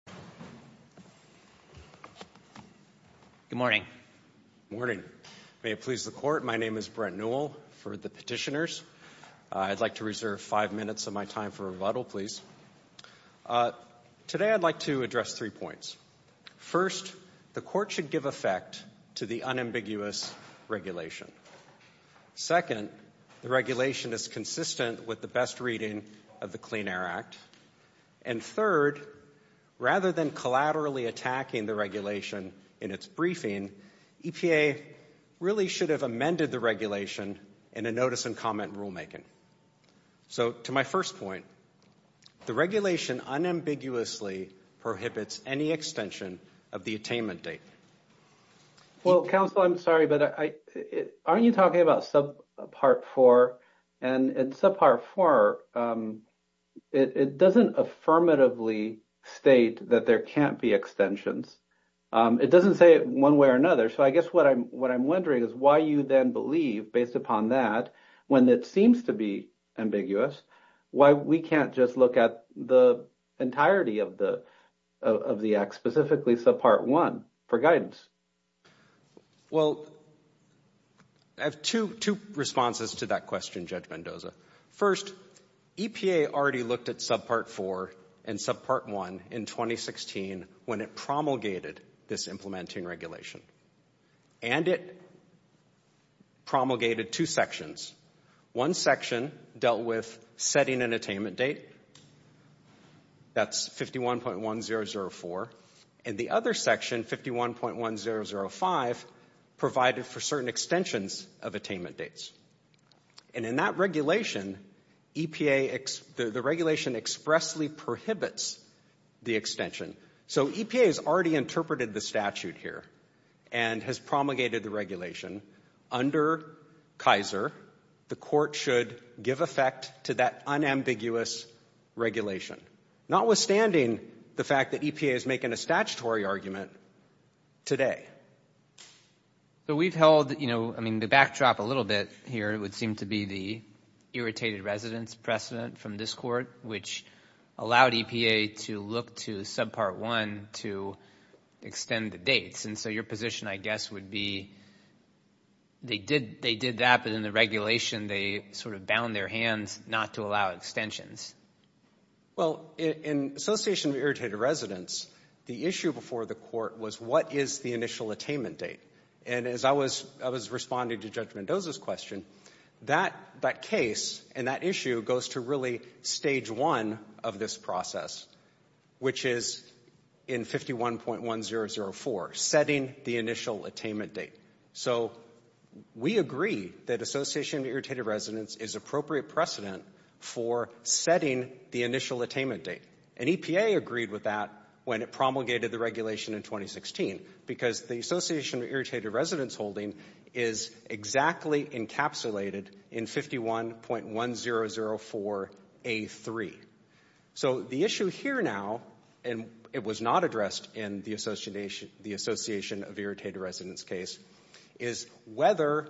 Brent Newell, Petitioner, United States Environmental Protection Agency Today I would like to address three points. First, the Court should give effect to the unambiguous regulation. Second, the regulation is consistent with the best reading of the rather than collaterally attacking the regulation in its briefing, EPA really should have amended the regulation in a notice and comment rulemaking. So to my first point, the regulation unambiguously prohibits any extension of the attainment date. Well, counsel, I'm sorry, but aren't you talking about subpart four? And in subpart four, it doesn't affirmatively state that there can't be extensions. It doesn't say it one way or another. So I guess what I'm wondering is why you then believe, based upon that, when it seems to be ambiguous, why we can't just look at the entirety of the Act, specifically subpart one for guidance? Well, I have two responses to that question, Judge Mendoza. First, EPA already looked at subpart four and subpart one in 2016 when it promulgated this implementing regulation. And it promulgated two sections. One section dealt with setting an attainment date. That's 51.1004. And the other section, 51.1005, provided for certain extensions of attainment dates. And in that regulation, the regulation expressly prohibits the extension. So EPA has already interpreted the statute here and has promulgated the regulation. Under Kaiser, the Court should give effect to that unambiguous regulation, notwithstanding the fact that EPA is making a statutory argument today. So we've held, you know, I mean, the backdrop a little bit here would seem to be the irritated residence precedent from this Court, which allowed EPA to look to subpart one to extend the dates. And so your position, I guess, would be they did that, but in the regulation they sort of bound their hands not to allow extensions. Well, in association with irritated residence, the issue before the Court was what is the initial attainment date? And as I was responding to Judge Mendoza's question, that case and that issue goes to really stage one of this process, which is in 51.1004, setting the initial attainment date. So we agree that association with irritated residence is appropriate precedent for setting the initial attainment date. And EPA agreed with that when it promulgated the regulation in 2016, because the association with irritated residence holding is exactly encapsulated in 51.1004A3. So the issue here now, and it was not addressed in the association of irritated residence case, is whether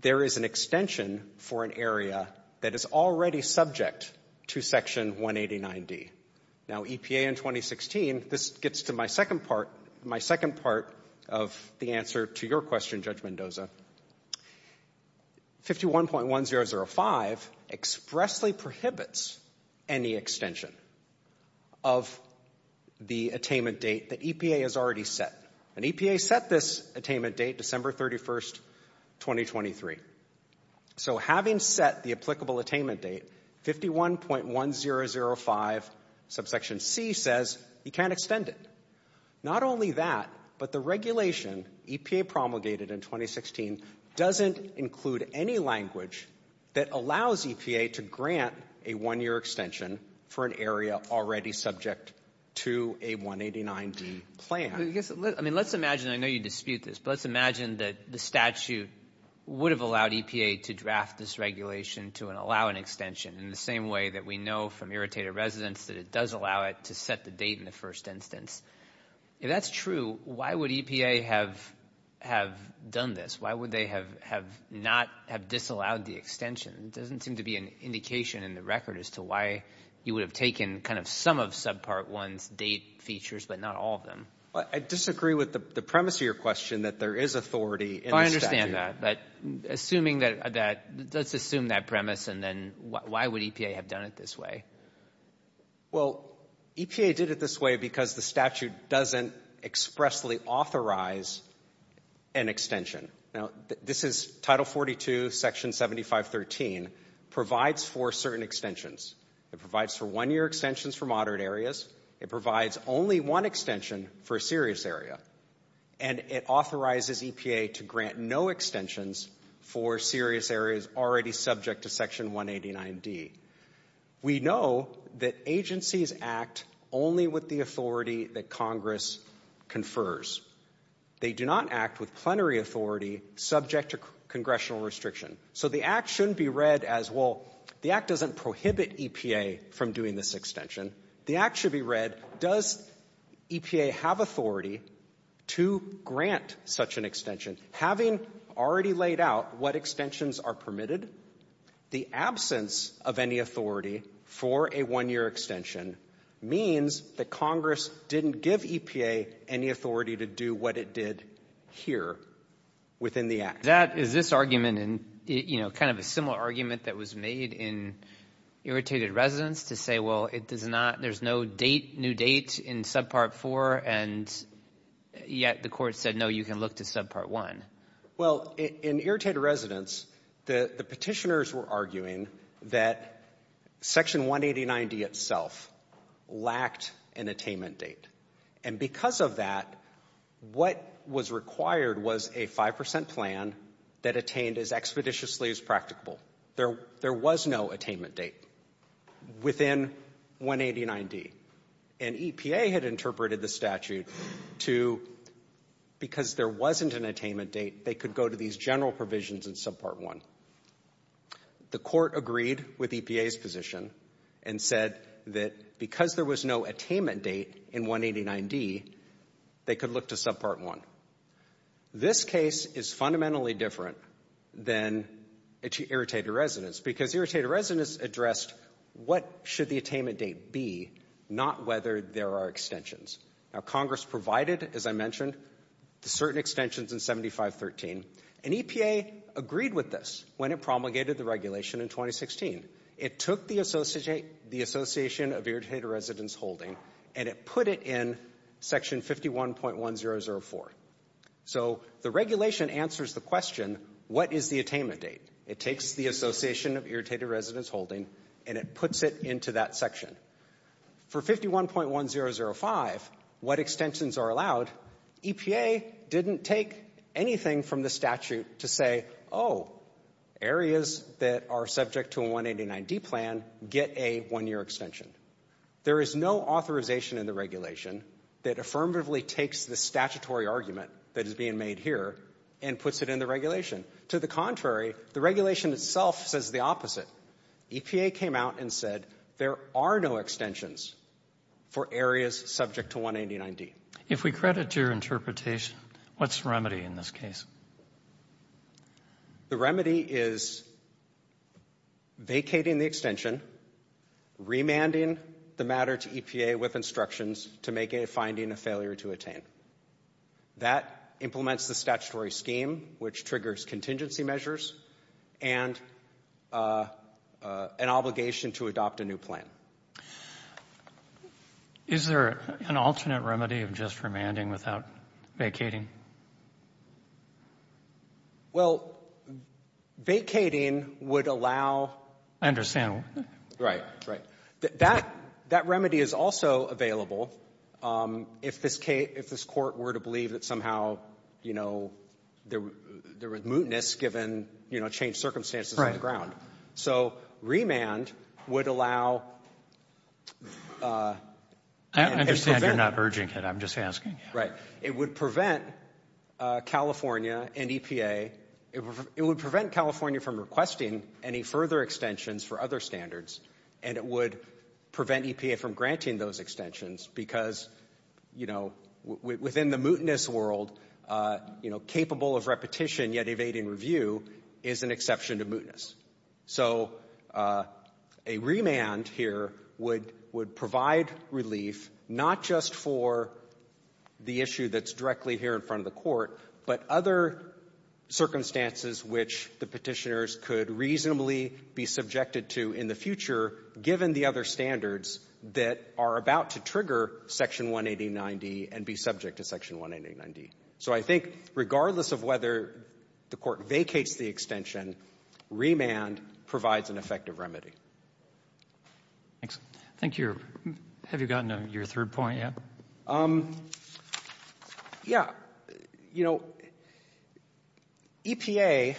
there is an extension for an area that is already subject to Section 189D. Now, EPA in 2016, this gets to my second part, my second part of the answer to your question, Judge Mendoza. 51.1005 expressly prohibits any extension of the attainment date that EPA has already set. And EPA set this attainment date December 31st, 2023. So having set the applicable attainment date, 51.1005 subsection C says you can't promulgated in 2016 doesn't include any language that allows EPA to grant a one-year extension for an area already subject to a 189D plan. I mean, let's imagine, I know you dispute this, but let's imagine that the statute would have allowed EPA to draft this regulation to allow an extension in the same way that we know from irritated residence that it does allow it to set the date in the first instance. If that's true, why would EPA have done this? Why would they have not have disallowed the extension? It doesn't seem to be an indication in the record as to why you would have taken kind of some of subpart 1's date features, but not all of them. Well, I disagree with the premise of your question that there is authority in the statute. Well, I understand that. But assuming that that, let's assume that premise, and then why would EPA have done it this way? Well, EPA did it this way because the statute doesn't expressly authorize an extension. Now, this is Title 42, Section 7513, provides for certain extensions. It provides for one-year extensions for moderate areas. It provides only one extension for a serious area. And it authorizes EPA to grant no extensions for serious areas already subject to Section 189D. We know that agencies act only with the authority that Congress confers. They do not act with plenary authority subject to congressional restriction. So the Act shouldn't be read as, well, the Act doesn't prohibit EPA from doing this extension. The Act should be read, does EPA have authority to grant such an extension, having already laid out what extensions are permitted? The absence of any authority for a one-year extension means that Congress didn't give EPA any authority to do what it did here within the Act. That is this argument and, you know, kind of a similar argument that was made in Irritated Residence to say, well, it does not, there's no date, new date in Subpart 4, and yet the Court said, no, you can look to Subpart 1. Well, in Irritated Residence, the petitioners were arguing that Section 189D itself lacked an attainment date. And because of that, what was required was a 5% plan that attained as expeditiously as practicable. There was no attainment date within 189D. And EPA had interpreted the statute to, because there wasn't an attainment date, they could go to these general provisions in Subpart 1. The Court agreed with EPA's position and said that because there was no attainment date in 189D, they could look to Subpart 1. This case is fundamentally different than Irritated Residence because Irritated Residence addressed what should the attainment date be, not whether there are extensions. Now, Congress provided, as I mentioned, certain extensions in 7513, and EPA agreed with this when it promulgated the regulation in 2016. It took the Association of Irritated Residence Holding and it put it in Section 51.1004. So the regulation answers the question, what is the attainment date? It takes the Association of Irritated Residence Holding and it puts it into that section. For 51.1005, what extensions are allowed, EPA didn't take anything from the statute to say, oh, areas that are subject to a 189D plan get a one-year extension. There is no authorization in the regulation that affirmatively takes the statutory argument that is being made here and puts it in the regulation. To the contrary, the regulation itself says the opposite. EPA came out and said there are no extensions for areas subject to 189D. Roberts. If we credit your interpretation, what's the remedy in this case? Waxman. The remedy is vacating the extension, remanding the matter to EPA with instructions to make a finding a failure to attain. That implements the statutory scheme, which triggers contingency measures and an obligation to adopt a new plan. Is there an alternate remedy of just remanding without vacating? Well, vacating would allow ---- I understand. Right. Right. That remedy is also available if this Court were to believe that somehow, you know, there was mootness given, you know, changed circumstances on the ground. So remand would allow ---- I understand you're not urging it. I'm just asking. Right. It would prevent California and EPA ---- it would prevent California from requesting any further extensions for other standards, and it would prevent EPA from granting those extensions because, you know, within the mootness world, you know, capable of repetition yet evading review is an exception to mootness. So a remand here would provide relief not just for the issue that's directly here in the Court, but other circumstances which the Petitioners could reasonably be subjected to in the future given the other standards that are about to trigger Section 1809D and be subject to Section 189D. So I think regardless of whether the Court vacates the extension, remand provides an effective remedy. Thanks. I think you're ---- have you gotten to your third point yet? Yeah. You know, EPA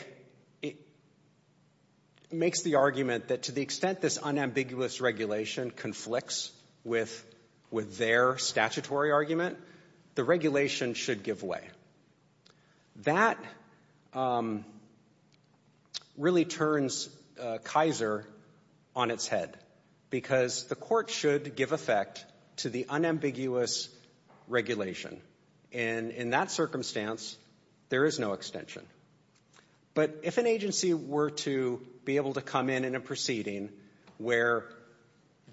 makes the argument that to the extent this unambiguous regulation conflicts with their statutory argument, the regulation should give way. That really turns Kaiser on its head because the Court should give effect to the unambiguous regulation. And in that circumstance, there is no extension. But if an agency were to be able to come in in a proceeding where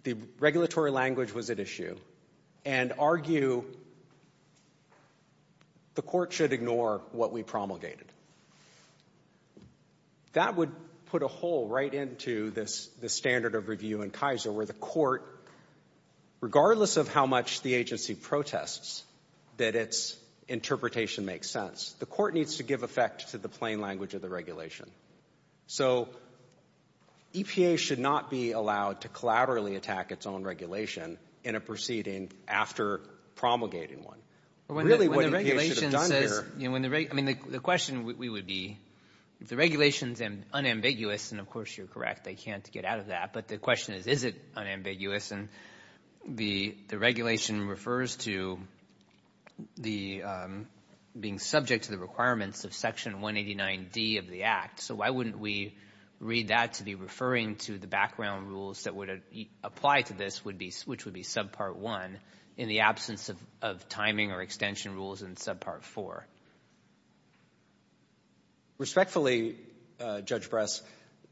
the regulatory language was at issue and argue the Court should ignore what we promulgated, that would put a hole right into the standard of review in Kaiser where the Court, regardless of how much the agency protests that its interpretation makes sense, the Court needs to give effect to the plain language of the regulation. So EPA should not be allowed to collaterally attack its own regulation in a proceeding after promulgating one. Really what EPA should have done here ---- I mean, the question we would be, if the regulation is unambiguous, and of course you're correct, they can't get out of that. But the question is, is it unambiguous? And the regulation refers to the being subject to the requirements of Section 189D of the Act. So why wouldn't we read that to be referring to the background rules that would apply to this, which would be subpart 1, in the absence of timing or extension rules in subpart 4? Respectfully, Judge Bress,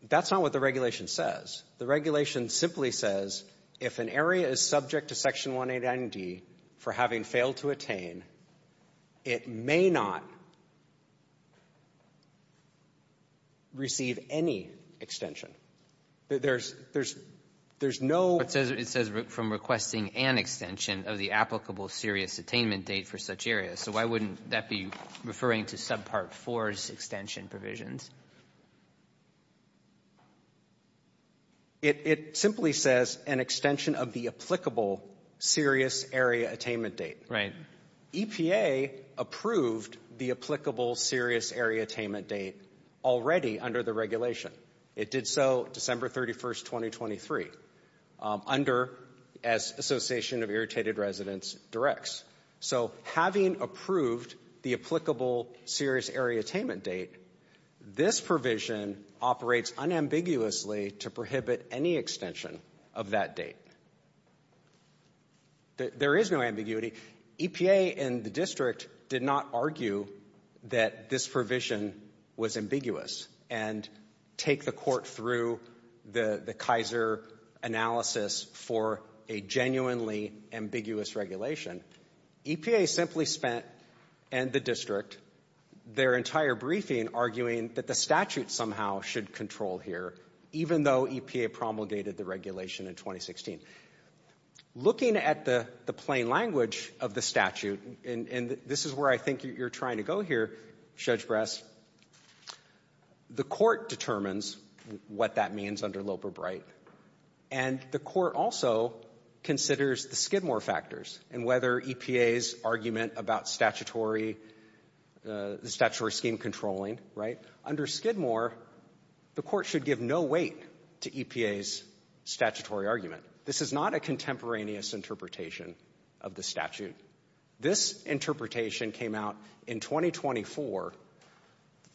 that's not what the regulation says. The regulation simply says if an area is subject to Section 189D for having failed to attain, it may not receive any extension. There's no ---- But it says from requesting an extension of the applicable serious attainment date for such areas. So why wouldn't that be referring to subpart 4's extension provisions? It simply says an extension of the applicable serious area attainment date. Right. EPA approved the applicable serious area attainment date already under the regulation. It did so December 31, 2023, under as Association of Irritated Residents directs. So having approved the applicable serious area attainment date, this provision operates unambiguously to prohibit any extension of that date. There is no ambiguity. EPA and the district did not argue that this provision was ambiguous. And take the court through the Kaiser analysis for a genuinely ambiguous regulation. EPA simply spent, and the district, their entire briefing arguing that the statute somehow should control here, even though EPA promulgated the regulation in 2016. Looking at the plain language of the statute, and this is where I think you're trying to go here, Judge Brest, the court determines what that means under Loper-Bright, and the court also considers the Skidmore factors and whether EPA's argument about statutory, the statutory scheme controlling, right? Under Skidmore, the court should give no weight to EPA's statutory argument. This is not a contemporaneous interpretation of the statute. This interpretation came out in 2024,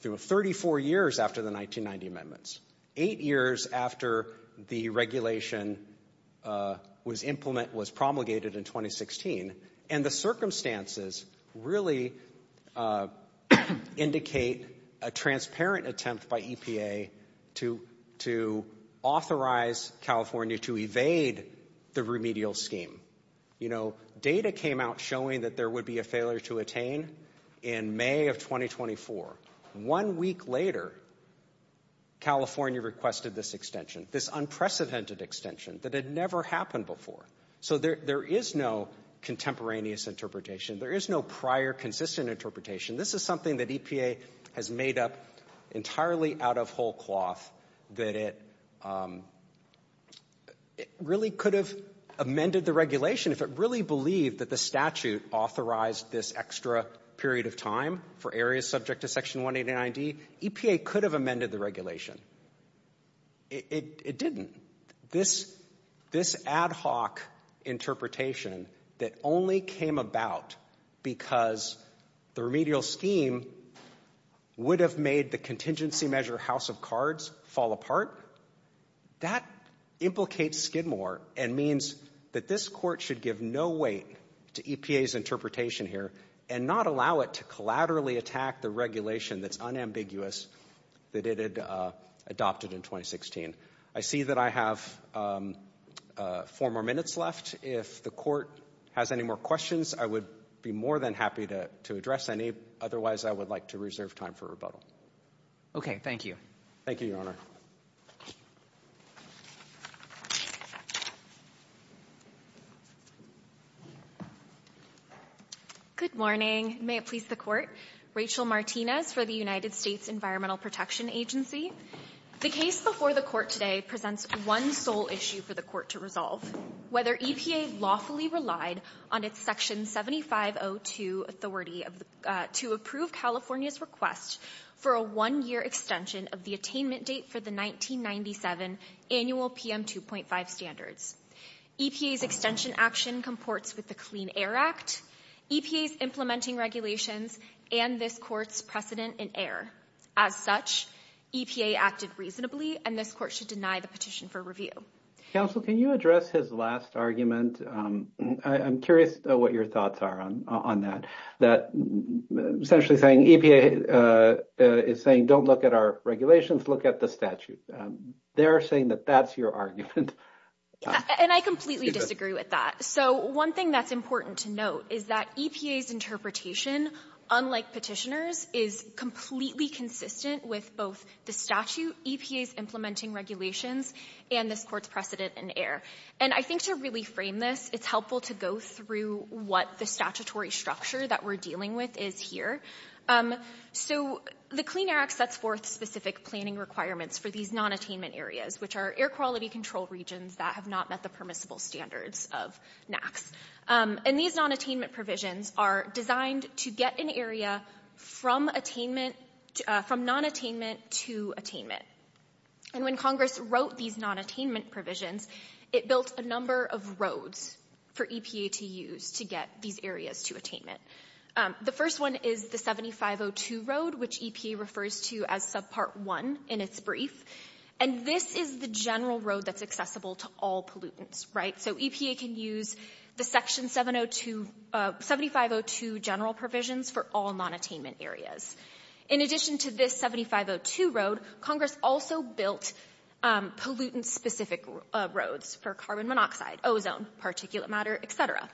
34 years after the 1990 amendments, eight years after the regulation was implemented, was promulgated in 2016, and the circumstances really indicate a transparent attempt by EPA to authorize California to evade the remedial scheme. You know, data came out showing that there would be a failure to attain in May of 2024. One week later, California requested this extension, this unprecedented extension that had never happened before. So there is no contemporaneous interpretation. There is no prior consistent interpretation. This is something that EPA has made up entirely out of whole cloth that it really could have amended the regulation. If it really believed that the statute authorized this extra period of time for areas subject to Section 189D, EPA could have amended the regulation. It didn't. This ad hoc interpretation that only came about because the remedial scheme would have made the contingency measure House of Cards fall apart, that implicates Skidmore and means that this court should give no weight to EPA's interpretation here and not allow it to collaterally attack the regulation that's unambiguous that it had adopted in 2016. I see that I have four more minutes left. If the court has any more questions, I would be more than happy to address any. Otherwise, I would like to reserve time for rebuttal. Okay. Thank you. Thank you, Your Honor. Good morning. May it please the court. Rachel Martinez for the United States Environmental Protection Agency. The case before the court today presents one sole issue for the court to resolve, whether EPA lawfully relied on its Section 7502 authority to approve California's request for a one-year extension of the attainment date for the 1997 annual PM 2.5 standards. EPA's extension action comports with the Clean Air Act, EPA's implementing regulations, and this court's precedent in air. As such, EPA acted reasonably, and this court should deny the petition for review. Counsel, can you address his last argument? I'm curious what your thoughts are on that, that essentially saying EPA is saying don't look at our regulations, look at the statute. They're saying that that's your argument. And I completely disagree with that. So one thing that's important to note is that EPA's interpretation, unlike petitioners, is completely consistent with both the statute, EPA's implementing regulations, and this court's precedent in air. And I think to really frame this, it's helpful to go through what the statutory structure that we're dealing with is here. So the Clean Air Act sets forth specific planning requirements for these non-attainment areas, which are air quality control regions that have not met the permissible standards of NAAQS. And these non-attainment provisions are designed to get an area from non-attainment to attainment. And when Congress wrote these non-attainment provisions, it built a number of roads for EPA to use to get these areas to attainment. The first one is the 7502 road, which EPA refers to as Subpart 1 in its brief, and this is the general road that's accessible to all pollutants, right? So EPA can use the 7502 general provisions for all non-attainment areas. In addition to this 7502 road, Congress also built pollutant-specific roads for carbon monoxide, ozone, particulate matter, et cetera.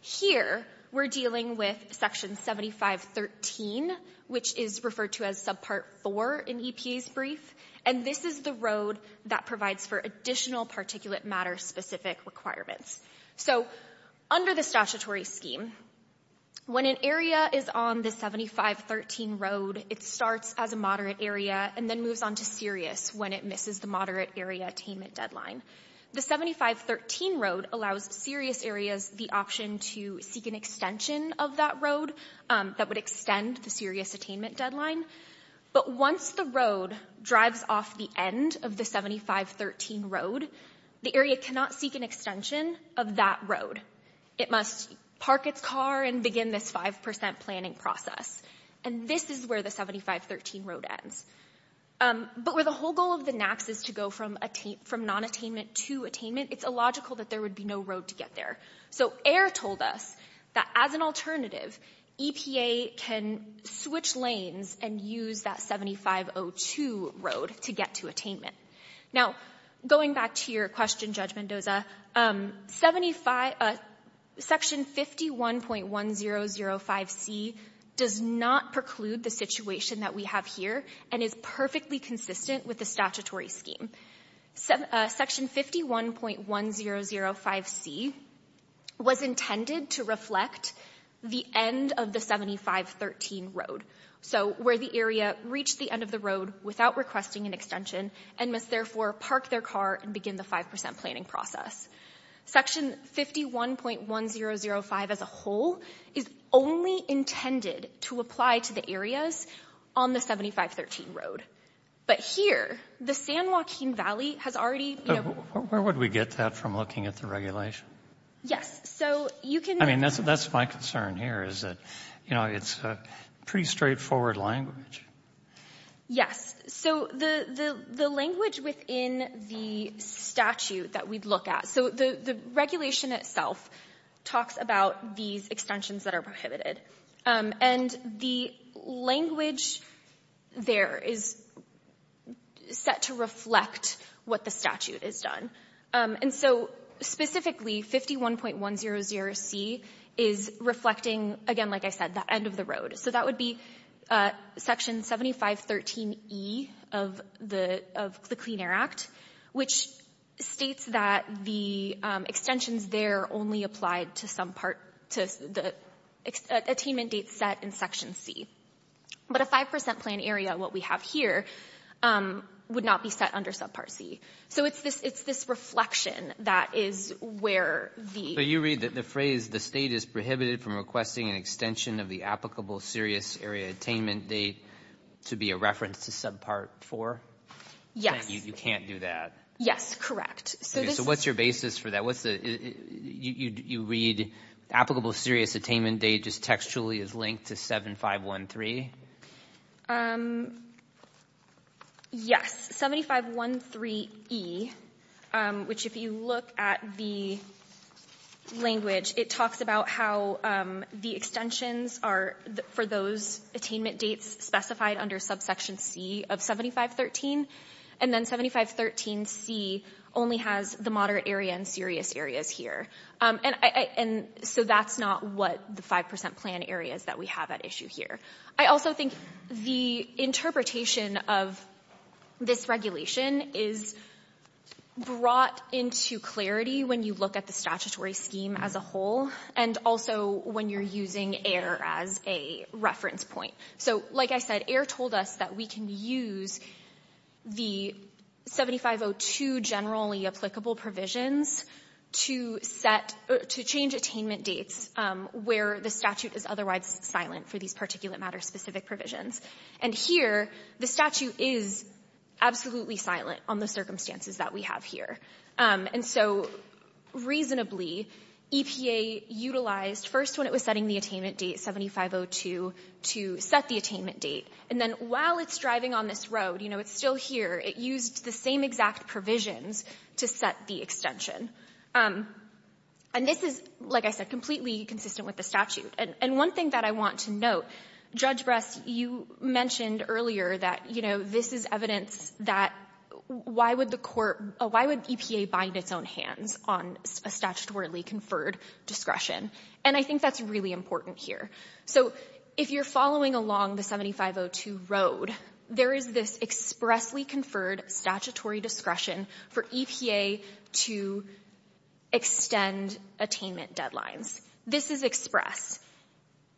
Here we're dealing with Section 7513, which is referred to as Subpart 4 in EPA's brief, and this is the road that provides for additional particulate matter-specific requirements. So under the statutory scheme, when an area is on the 7513 road, it starts as a moderate area and then moves on to serious when it misses the moderate area attainment deadline. The 7513 road allows serious areas the option to seek an extension of that road that would extend the serious attainment deadline. But once the road drives off the end of the 7513 road, the area cannot seek an extension of that road. It must park its car and begin this 5% planning process. And this is where the 7513 road ends. But where the whole goal of the NAAQS is to go from non-attainment to attainment, it's illogical that there would be no road to get there. So AIR told us that as an alternative, EPA can switch lanes and use that 7502 road to get to attainment. Now, going back to your question, Judge Mendoza, Section 51.1005C does not preclude the situation that we have here and is perfectly consistent with the statutory scheme. Section 51.1005C was intended to reflect the end of the 7513 road, so where the area reached the end of the road without requesting an extension and must therefore park their car and begin the 5% planning process. Section 51.1005 as a whole is only intended to apply to the areas on the 7513 road. But here, the San Joaquin Valley has already... Where would we get that from looking at the regulation? Yes, so you can... I mean, that's my concern here is that it's a pretty straightforward language. Yes. So the language within the statute that we'd look at, so the regulation itself talks about these extensions that are prohibited. And the language there is set to reflect what the statute has done. And so specifically, 51.100C is reflecting, again, like I said, that end of the road. So that would be Section 7513E of the Clean Air Act, which states that the extensions there only applied to some part, to the attainment date set in Section C. But a 5% plan area, what we have here, would not be set under Subpart C. So it's this reflection that is where the... So you read the phrase, the State is prohibited from requesting an extension of the applicable serious area attainment date to be a reference to Subpart 4? Yes. You can't do that. Yes, correct. So what's your basis for that? You read applicable serious attainment date just textually is linked to 7513? Yes. 7513E, which if you look at the language, it talks about how the extensions are for those attainment dates specified under Subsection C of 7513. And then 7513C only has the moderate area and serious areas here. And so that's not what the 5% plan areas that we have at issue here. I also think the interpretation of this regulation is brought into clarity when you look at the statutory scheme as a whole, and also when you're using air as a reference point. So like I said, air told us that we can use the 7502 generally applicable provisions to set or to change attainment dates where the statute is otherwise silent for these particulate matter specific provisions. And here, the statute is absolutely silent on the circumstances that we have here. And so reasonably, EPA utilized first when it was setting the attainment date, 7502, to set the attainment date. And then while it's driving on this road, you know, it's still here. It used the same exact provisions to set the extension. And this is, like I said, completely consistent with the statute. And one thing that I want to note, Judge Brest, you mentioned earlier that, you know, this is evidence that why would the court, why would EPA bind its own hands on a statutorily conferred discretion? And I think that's really important here. So if you're following along the 7502 road, there is this expressly conferred statutory discretion for EPA to extend attainment deadlines. This is express.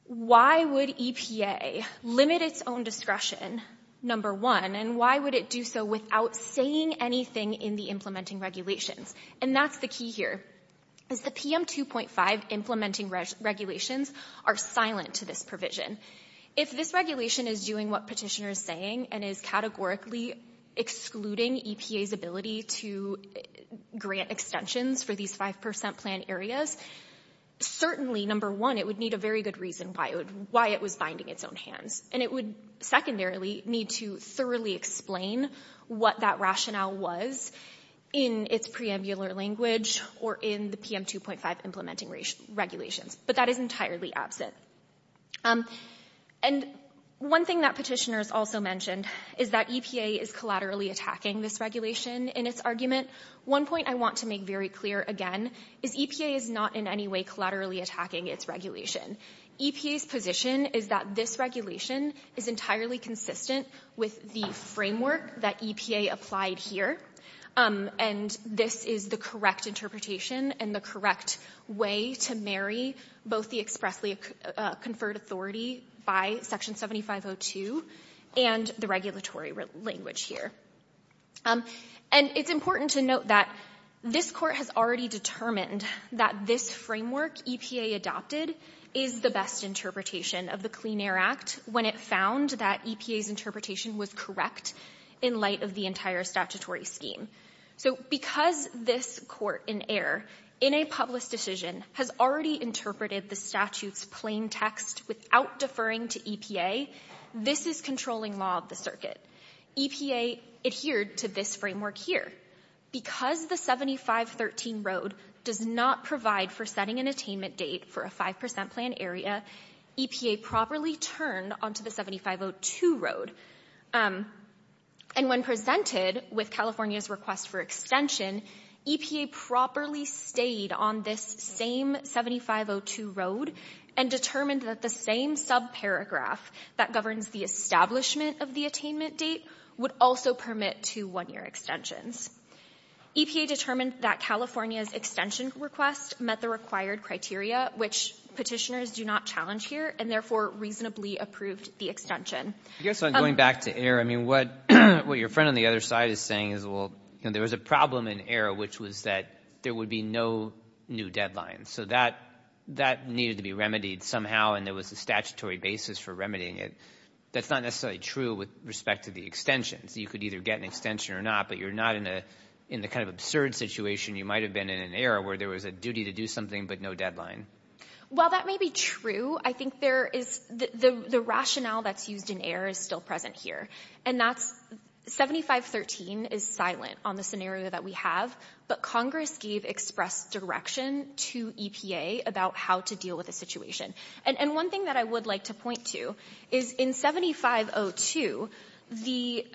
Why would EPA limit its own discretion, number one, and why would it do so without saying anything in the implementing regulations? And that's the key here. The PM 2.5 implementing regulations are silent to this provision. If this regulation is doing what Petitioner is saying and is categorically excluding EPA's ability to grant extensions for these 5 percent plan areas, certainly, number one, it would need a very good reason why it was binding its own hands. And it would secondarily need to thoroughly explain what that rationale was in its preambular language or in the PM 2.5 implementing regulations. But that is entirely absent. And one thing that Petitioner has also mentioned is that EPA is collaterally attacking this regulation in its argument. One point I want to make very clear again is EPA is not in any way collaterally attacking its regulation. EPA's position is that this regulation is entirely consistent with the framework that EPA applied here. And this is the correct interpretation and the correct way to marry both the expressly conferred authority by Section 7502 and the regulatory language here. And it's important to note that this Court has already determined that this framework EPA adopted is the best interpretation of the Clean Air Act when it found that EPA's So because this Court in error, in a public decision, has already interpreted the statute's plain text without deferring to EPA, this is controlling law of the EPA adhered to this framework here. Because the 7513 road does not provide for setting an attainment date for a 5 percent plan area, EPA properly turned onto the 7502 road. And when presented with California's request for extension, EPA properly stayed on this same 7502 road and determined that the same subparagraph that governs the establishment of the attainment date would also permit two one-year extensions. EPA determined that California's extension request met the required criteria, which Petitioners do not challenge here, and therefore reasonably approved the extension. I guess on going back to error, I mean, what your friend on the other side is saying is, well, there was a problem in error, which was that there would be no new deadline. So that needed to be remedied somehow, and there was a statutory basis for remedying it. That's not necessarily true with respect to the extensions. You could either get an extension or not, but you're not in the kind of absurd situation you might have been in an error where there was a duty to do something but no deadline. Well, that may be true. I think there is the rationale that's used in error is still present here. And that's 7513 is silent on the scenario that we have, but Congress gave express direction to EPA about how to deal with the situation. And one thing that I would like to point to is in 7502, the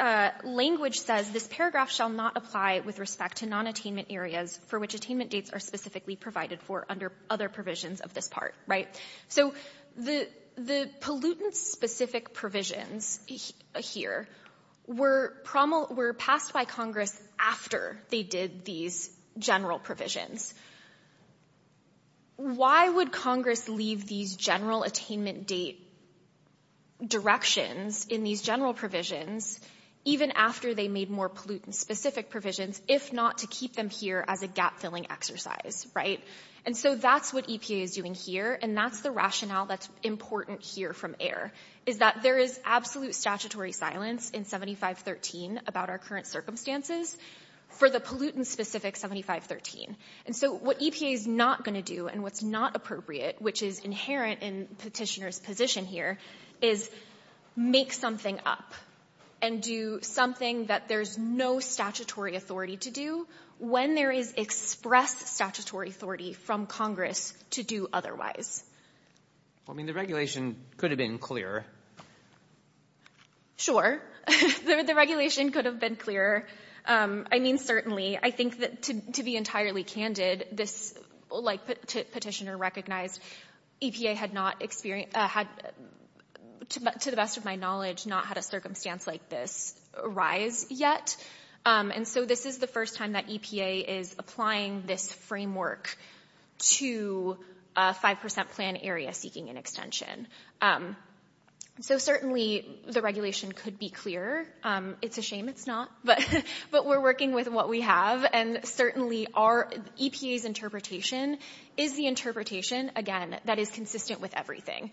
language says this paragraph shall not apply with respect to nonattainment areas for which attainment dates are specifically provided for under other provisions of this part, right? So the pollutant-specific provisions here were passed by Congress after they did these general provisions. Why would Congress leave these general attainment date directions in these general provisions even after they made more pollutant-specific provisions if not to keep them here as a gap-filling exercise, right? And so that's what EPA is doing here, and that's the rationale that's important here from error is that there is absolute statutory silence in 7513 about our current circumstances for the pollutant-specific 7513. And so what EPA is not going to do and what's not appropriate, which is inherent in petitioner's position here, is make something up and do something that there's no statutory authority to do when there is express statutory authority from Congress to do otherwise. I mean, the regulation could have been clearer. The regulation could have been clearer. I mean, certainly. I think that to be entirely candid, this, like Petitioner recognized, EPA had not experienced — had, to the best of my knowledge, not had a circumstance like this arise yet. And so this is the first time that EPA is applying this framework to a 5 percent plan area seeking an extension. So certainly the regulation could be clearer. It's a shame it's not, but we're working with what we have. And certainly our — EPA's interpretation is the interpretation, again, that is consistent with everything,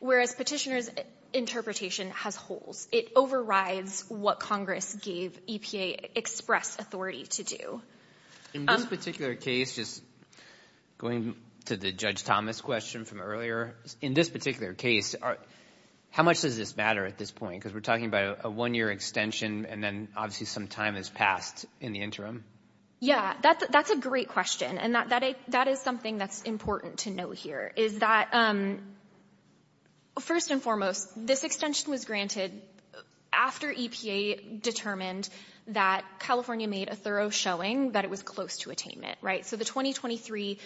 whereas Petitioner's interpretation has holes. It overrides what Congress gave EPA express authority to do. In this particular case, just going to the Judge Thomas question from earlier, in this particular case, how much does this matter at this point? Because we're talking about a one-year extension and then obviously some time has passed in the interim. Yeah, that's a great question. And that is something that's important to know here, is that first and foremost, this extension was granted after EPA determined that California made a thorough showing that it was close to attainment, right? So the 2023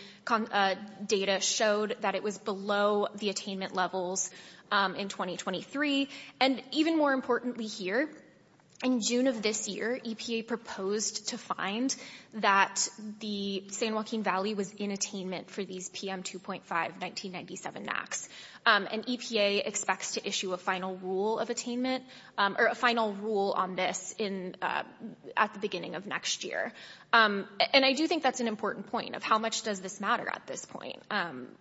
data showed that it was below the attainment levels in 2023. And even more importantly here, in June of this year, EPA proposed to find that the San Joaquin Valley was in attainment for these PM 2.5 1997 NACs. And EPA expects to issue a final rule of attainment — or a final rule on this at the beginning of next year. And I do think that's an important point of how much does this matter at this point.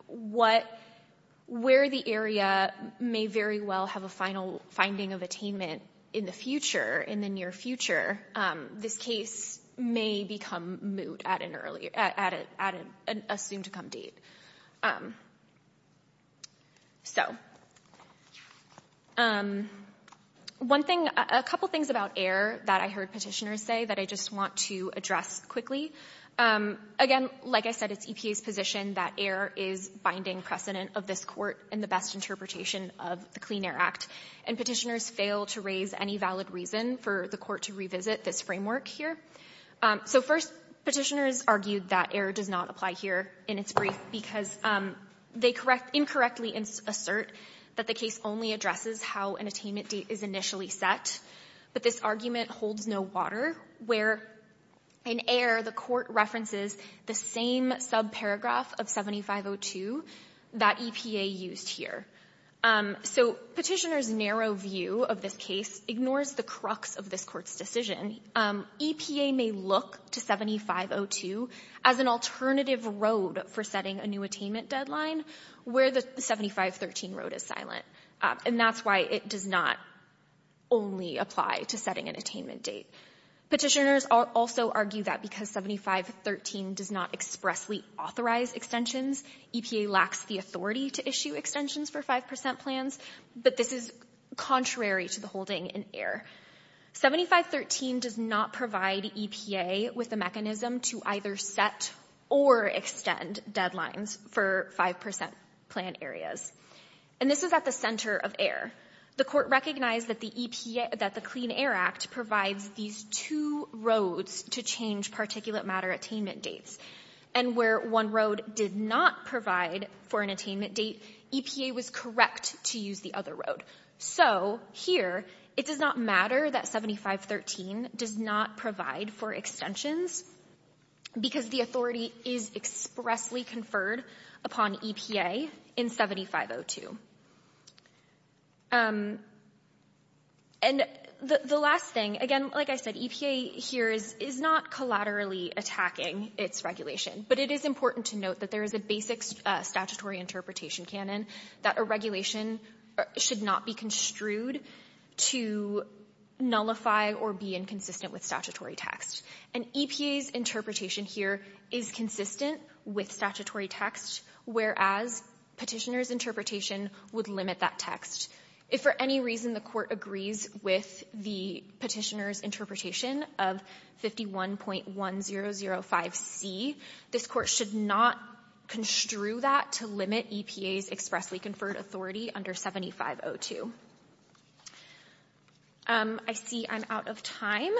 Where the area may very well have a final finding of attainment in the future, in the near future, this case may become moot at an early — at a soon-to-come date. So one thing — a couple things about AIR that I heard Petitioners say that I just want to address quickly. Again, like I said, it's EPA's position that AIR is binding precedent of this Court in the best interpretation of the Clean Air Act. And Petitioners fail to raise any valid reason for the Court to revisit this framework here. So first, Petitioners argued that AIR does not apply here in its brief because they incorrectly assert that the case only addresses how an attainment date is initially set. But this argument holds no water, where in AIR, the Court references the same subparagraph of 7502 that EPA used here. So Petitioners' narrow view of this case ignores the crux of this Court's decision. EPA may look to 7502 as an alternative road for setting a new attainment deadline where the 7513 road is silent. And that's why it does not only apply to setting an attainment date. Petitioners also argue that because 7513 does not expressly authorize extensions, EPA lacks the authority to issue extensions for 5 percent plans. But this is contrary to the holding in AIR. 7513 does not provide EPA with a mechanism to either set or extend deadlines for 5 percent plan areas. And this is at the center of AIR. The Court recognized that the Clean Air Act provides these two roads to change particulate matter attainment dates. And where one road did not provide for an attainment date, EPA was correct to use the other road. So here, it does not matter that 7513 does not provide for extensions because the authority is expressly conferred upon EPA in 7502. And the last thing, again, like I said, EPA here is not collaterally attacking its regulation. But it is important to note that there is a basic statutory interpretation canon that a regulation should not be construed to nullify or be inconsistent with statutory text. And EPA's interpretation here is consistent with statutory text, whereas Petitioner's Interpretation would limit that text. If for any reason the Court agrees with the Petitioner's Interpretation of 51.1005C, this Court should not construe that to limit EPA's expressly conferred authority under 7502. I see I'm out of time.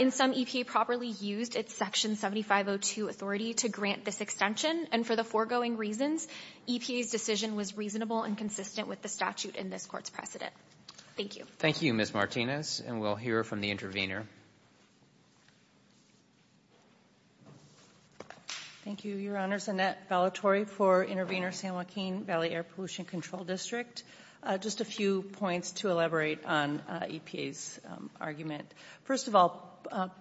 In sum, EPA properly used its Section 7502 authority to grant this extension. And for the foregoing reasons, EPA's decision was reasonable and consistent with the statute in this Court's precedent. Thank you. Thank you, Ms. Martinez. And we'll hear from the intervener. Thank you, Your Honors. Annette Vellatore for Intervenor San Joaquin Valley Air Pollution Control District. Just a few points to elaborate on EPA's argument. First of all,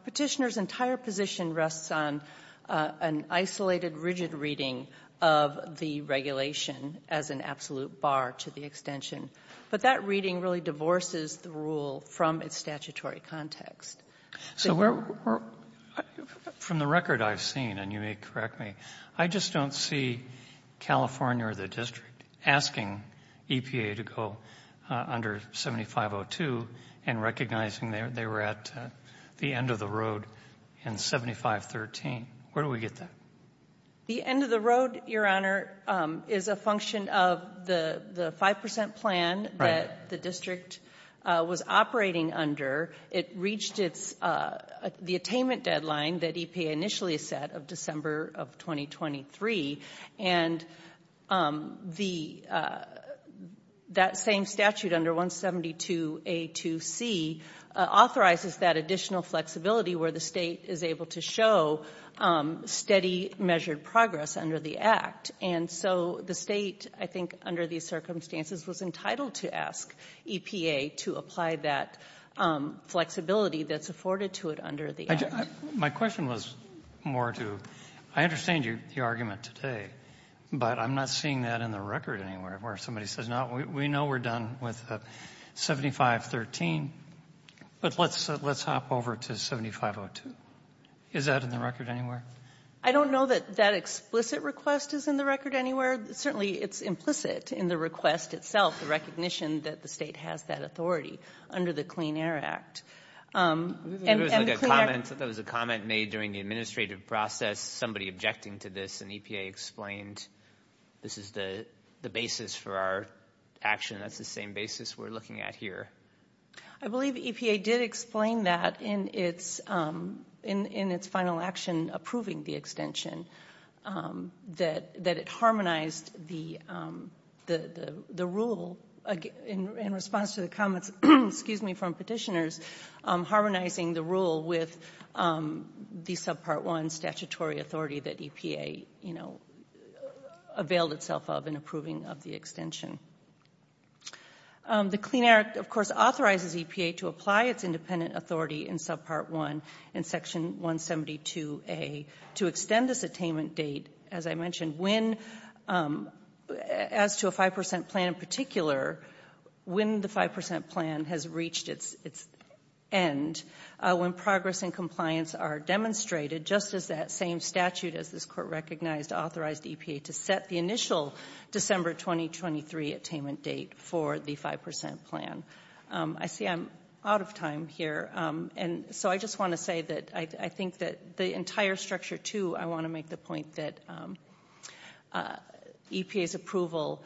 Petitioner's entire position rests on an isolated, rigid reading of the regulation as an absolute bar to the extension. But that reading really divorces the rule from its statutory context. So we're, from the record I've seen, and you may correct me, I just don't see California asking EPA to go under 7502 and recognizing they were at the end of the road in 7513. Where do we get that? The end of the road, Your Honor, is a function of the 5 percent plan that the district was operating under. It reached the attainment deadline that EPA initially set of December of 2023. And the, that same statute under 172A2C authorizes that additional flexibility where the State is able to show steady measured progress under the Act. And so the State, I think under these circumstances, was entitled to ask EPA to apply that flexibility that's afforded to it under the Act. My question was more to, I understand your argument today, but I'm not seeing that in the record anywhere where somebody says, no, we know we're done with 7513, but let's hop over to 7502. Is that in the record anywhere? I don't know that that explicit request is in the record anywhere. Certainly it's implicit in the request itself, the recognition that the State has that authority under the Clean Air Act. There was a comment made during the administrative process, somebody objecting to this, and EPA explained this is the basis for our action. That's the same basis we're looking at here. I believe EPA did explain that in its final action approving the extension, that it harmonized the rule in response to the comments from petitioners, harmonizing the rule with the Subpart 1 statutory authority that EPA availed itself of in approving of the extension. The Clean Air Act, of course, authorizes EPA to apply its independent authority in Subpart 1 and Section 172A to extend this attainment date. As I mentioned, as to a 5% plan in particular, when the 5% plan has reached its end, when progress and compliance are demonstrated, just as that same statute as this Court recognized authorized EPA to set the initial December 2023 attainment date for the 5% plan. I see I'm out of time here, and so I just want to say that I think that the entire structure, too, I want to make the point that EPA's approval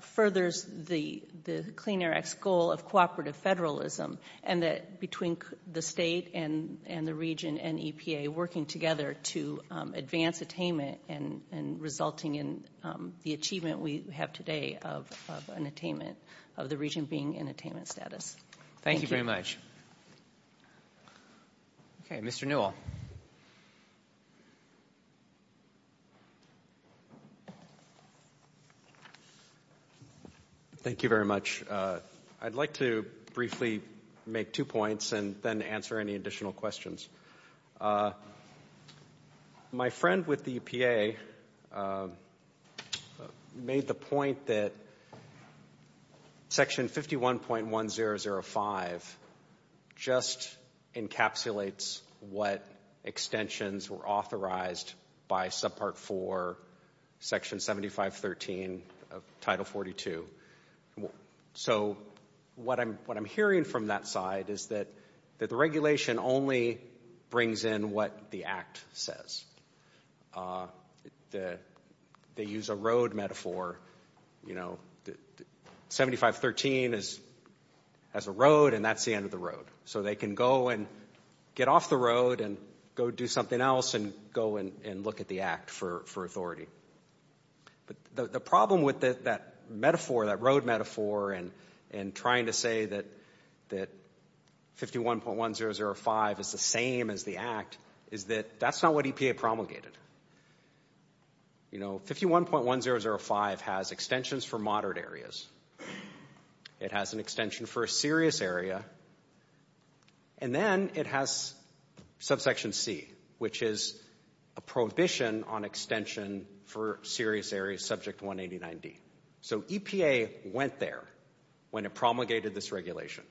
furthers the Clean Air Act's goal of cooperative federalism, and that between the state and the region and EPA working together to advance attainment and resulting in the achievement we have today of an attainment, of the region being in attainment status. Thank you very much. Okay, Mr. Newell. Thank you very much. I'd like to briefly make two points and then answer any additional questions. My friend with the EPA made the point that Section 51.1005 just encapsulates what extensions were authorized by Subpart 4, Section 7513 of Title 42. So what I'm hearing from that side is that the regulation only brings in what the Act says. They use a road metaphor. You know, 7513 has a road, and that's the end of the road. So they can go and get off the road and go do something else and go and look at the Act for authority. But the problem with that metaphor, that road metaphor, and trying to say that 51.1005 is the same as the Act is that that's not what EPA promulgated. You know, 51.1005 has extensions for moderate areas. It has an extension for a serious area. And then it has Subsection C, which is a prohibition on extension for serious areas subject to 189D. So EPA went there when it promulgated this regulation.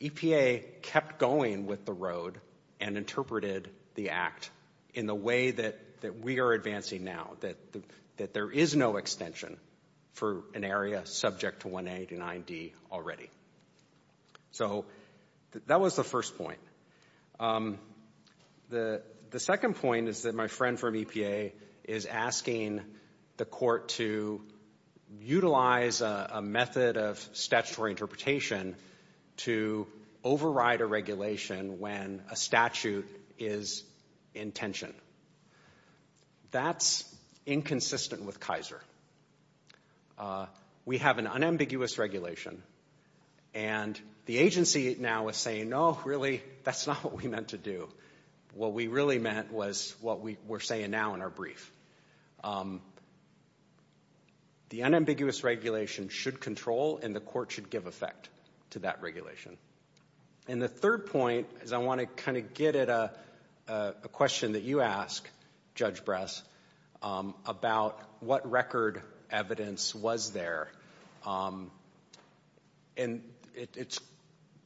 EPA kept going with the road and interpreted the Act in the way that we are advancing now, that there is no extension for an area subject to 189D already. So that was the first point. The second point is that my friend from EPA is asking the Court to utilize a method of statutory interpretation to override a regulation when a statute is in tension. That's inconsistent with Kaiser. We have an unambiguous regulation, and the agency now is saying, no, really, that's not what we meant to do. What we really meant was what we're saying now in our brief. The unambiguous regulation should control, and the Court should give effect to that regulation. And the third point is I want to kind of get at a question that you asked, Judge Bress, about what record evidence was there. And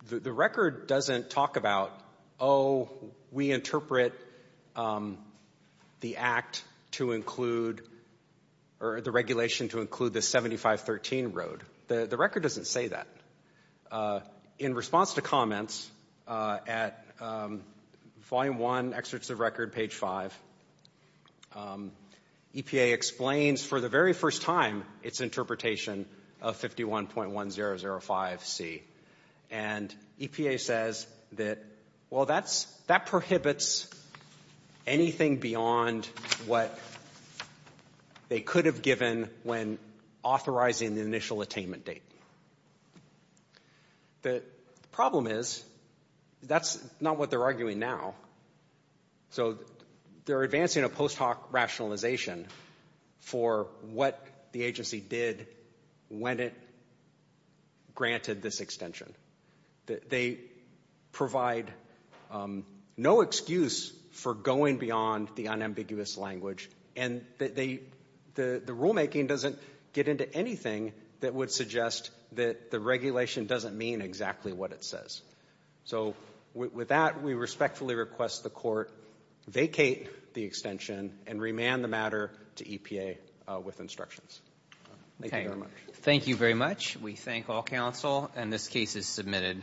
the record doesn't talk about, oh, we interpret the Act to include, or the regulation to include the 7513 road. The record doesn't say that. In response to comments at Volume 1, Excerpts of Record, page 5, EPA explains for the very first time its interpretation of 51.1005C. And EPA says that, well, that prohibits anything beyond what they could have given when authorizing the initial attainment date. The problem is that's not what they're arguing now. So they're advancing a post hoc rationalization for what the agency did when it granted this extension. They provide no excuse for going beyond the unambiguous language, and the rulemaking doesn't get into anything that would suggest that the regulation doesn't mean exactly what it says. So with that, we respectfully request the Court vacate the extension and remand the matter to EPA with instructions. Thank you very much. Thank you very much. We thank all counsel, and this case is submitted.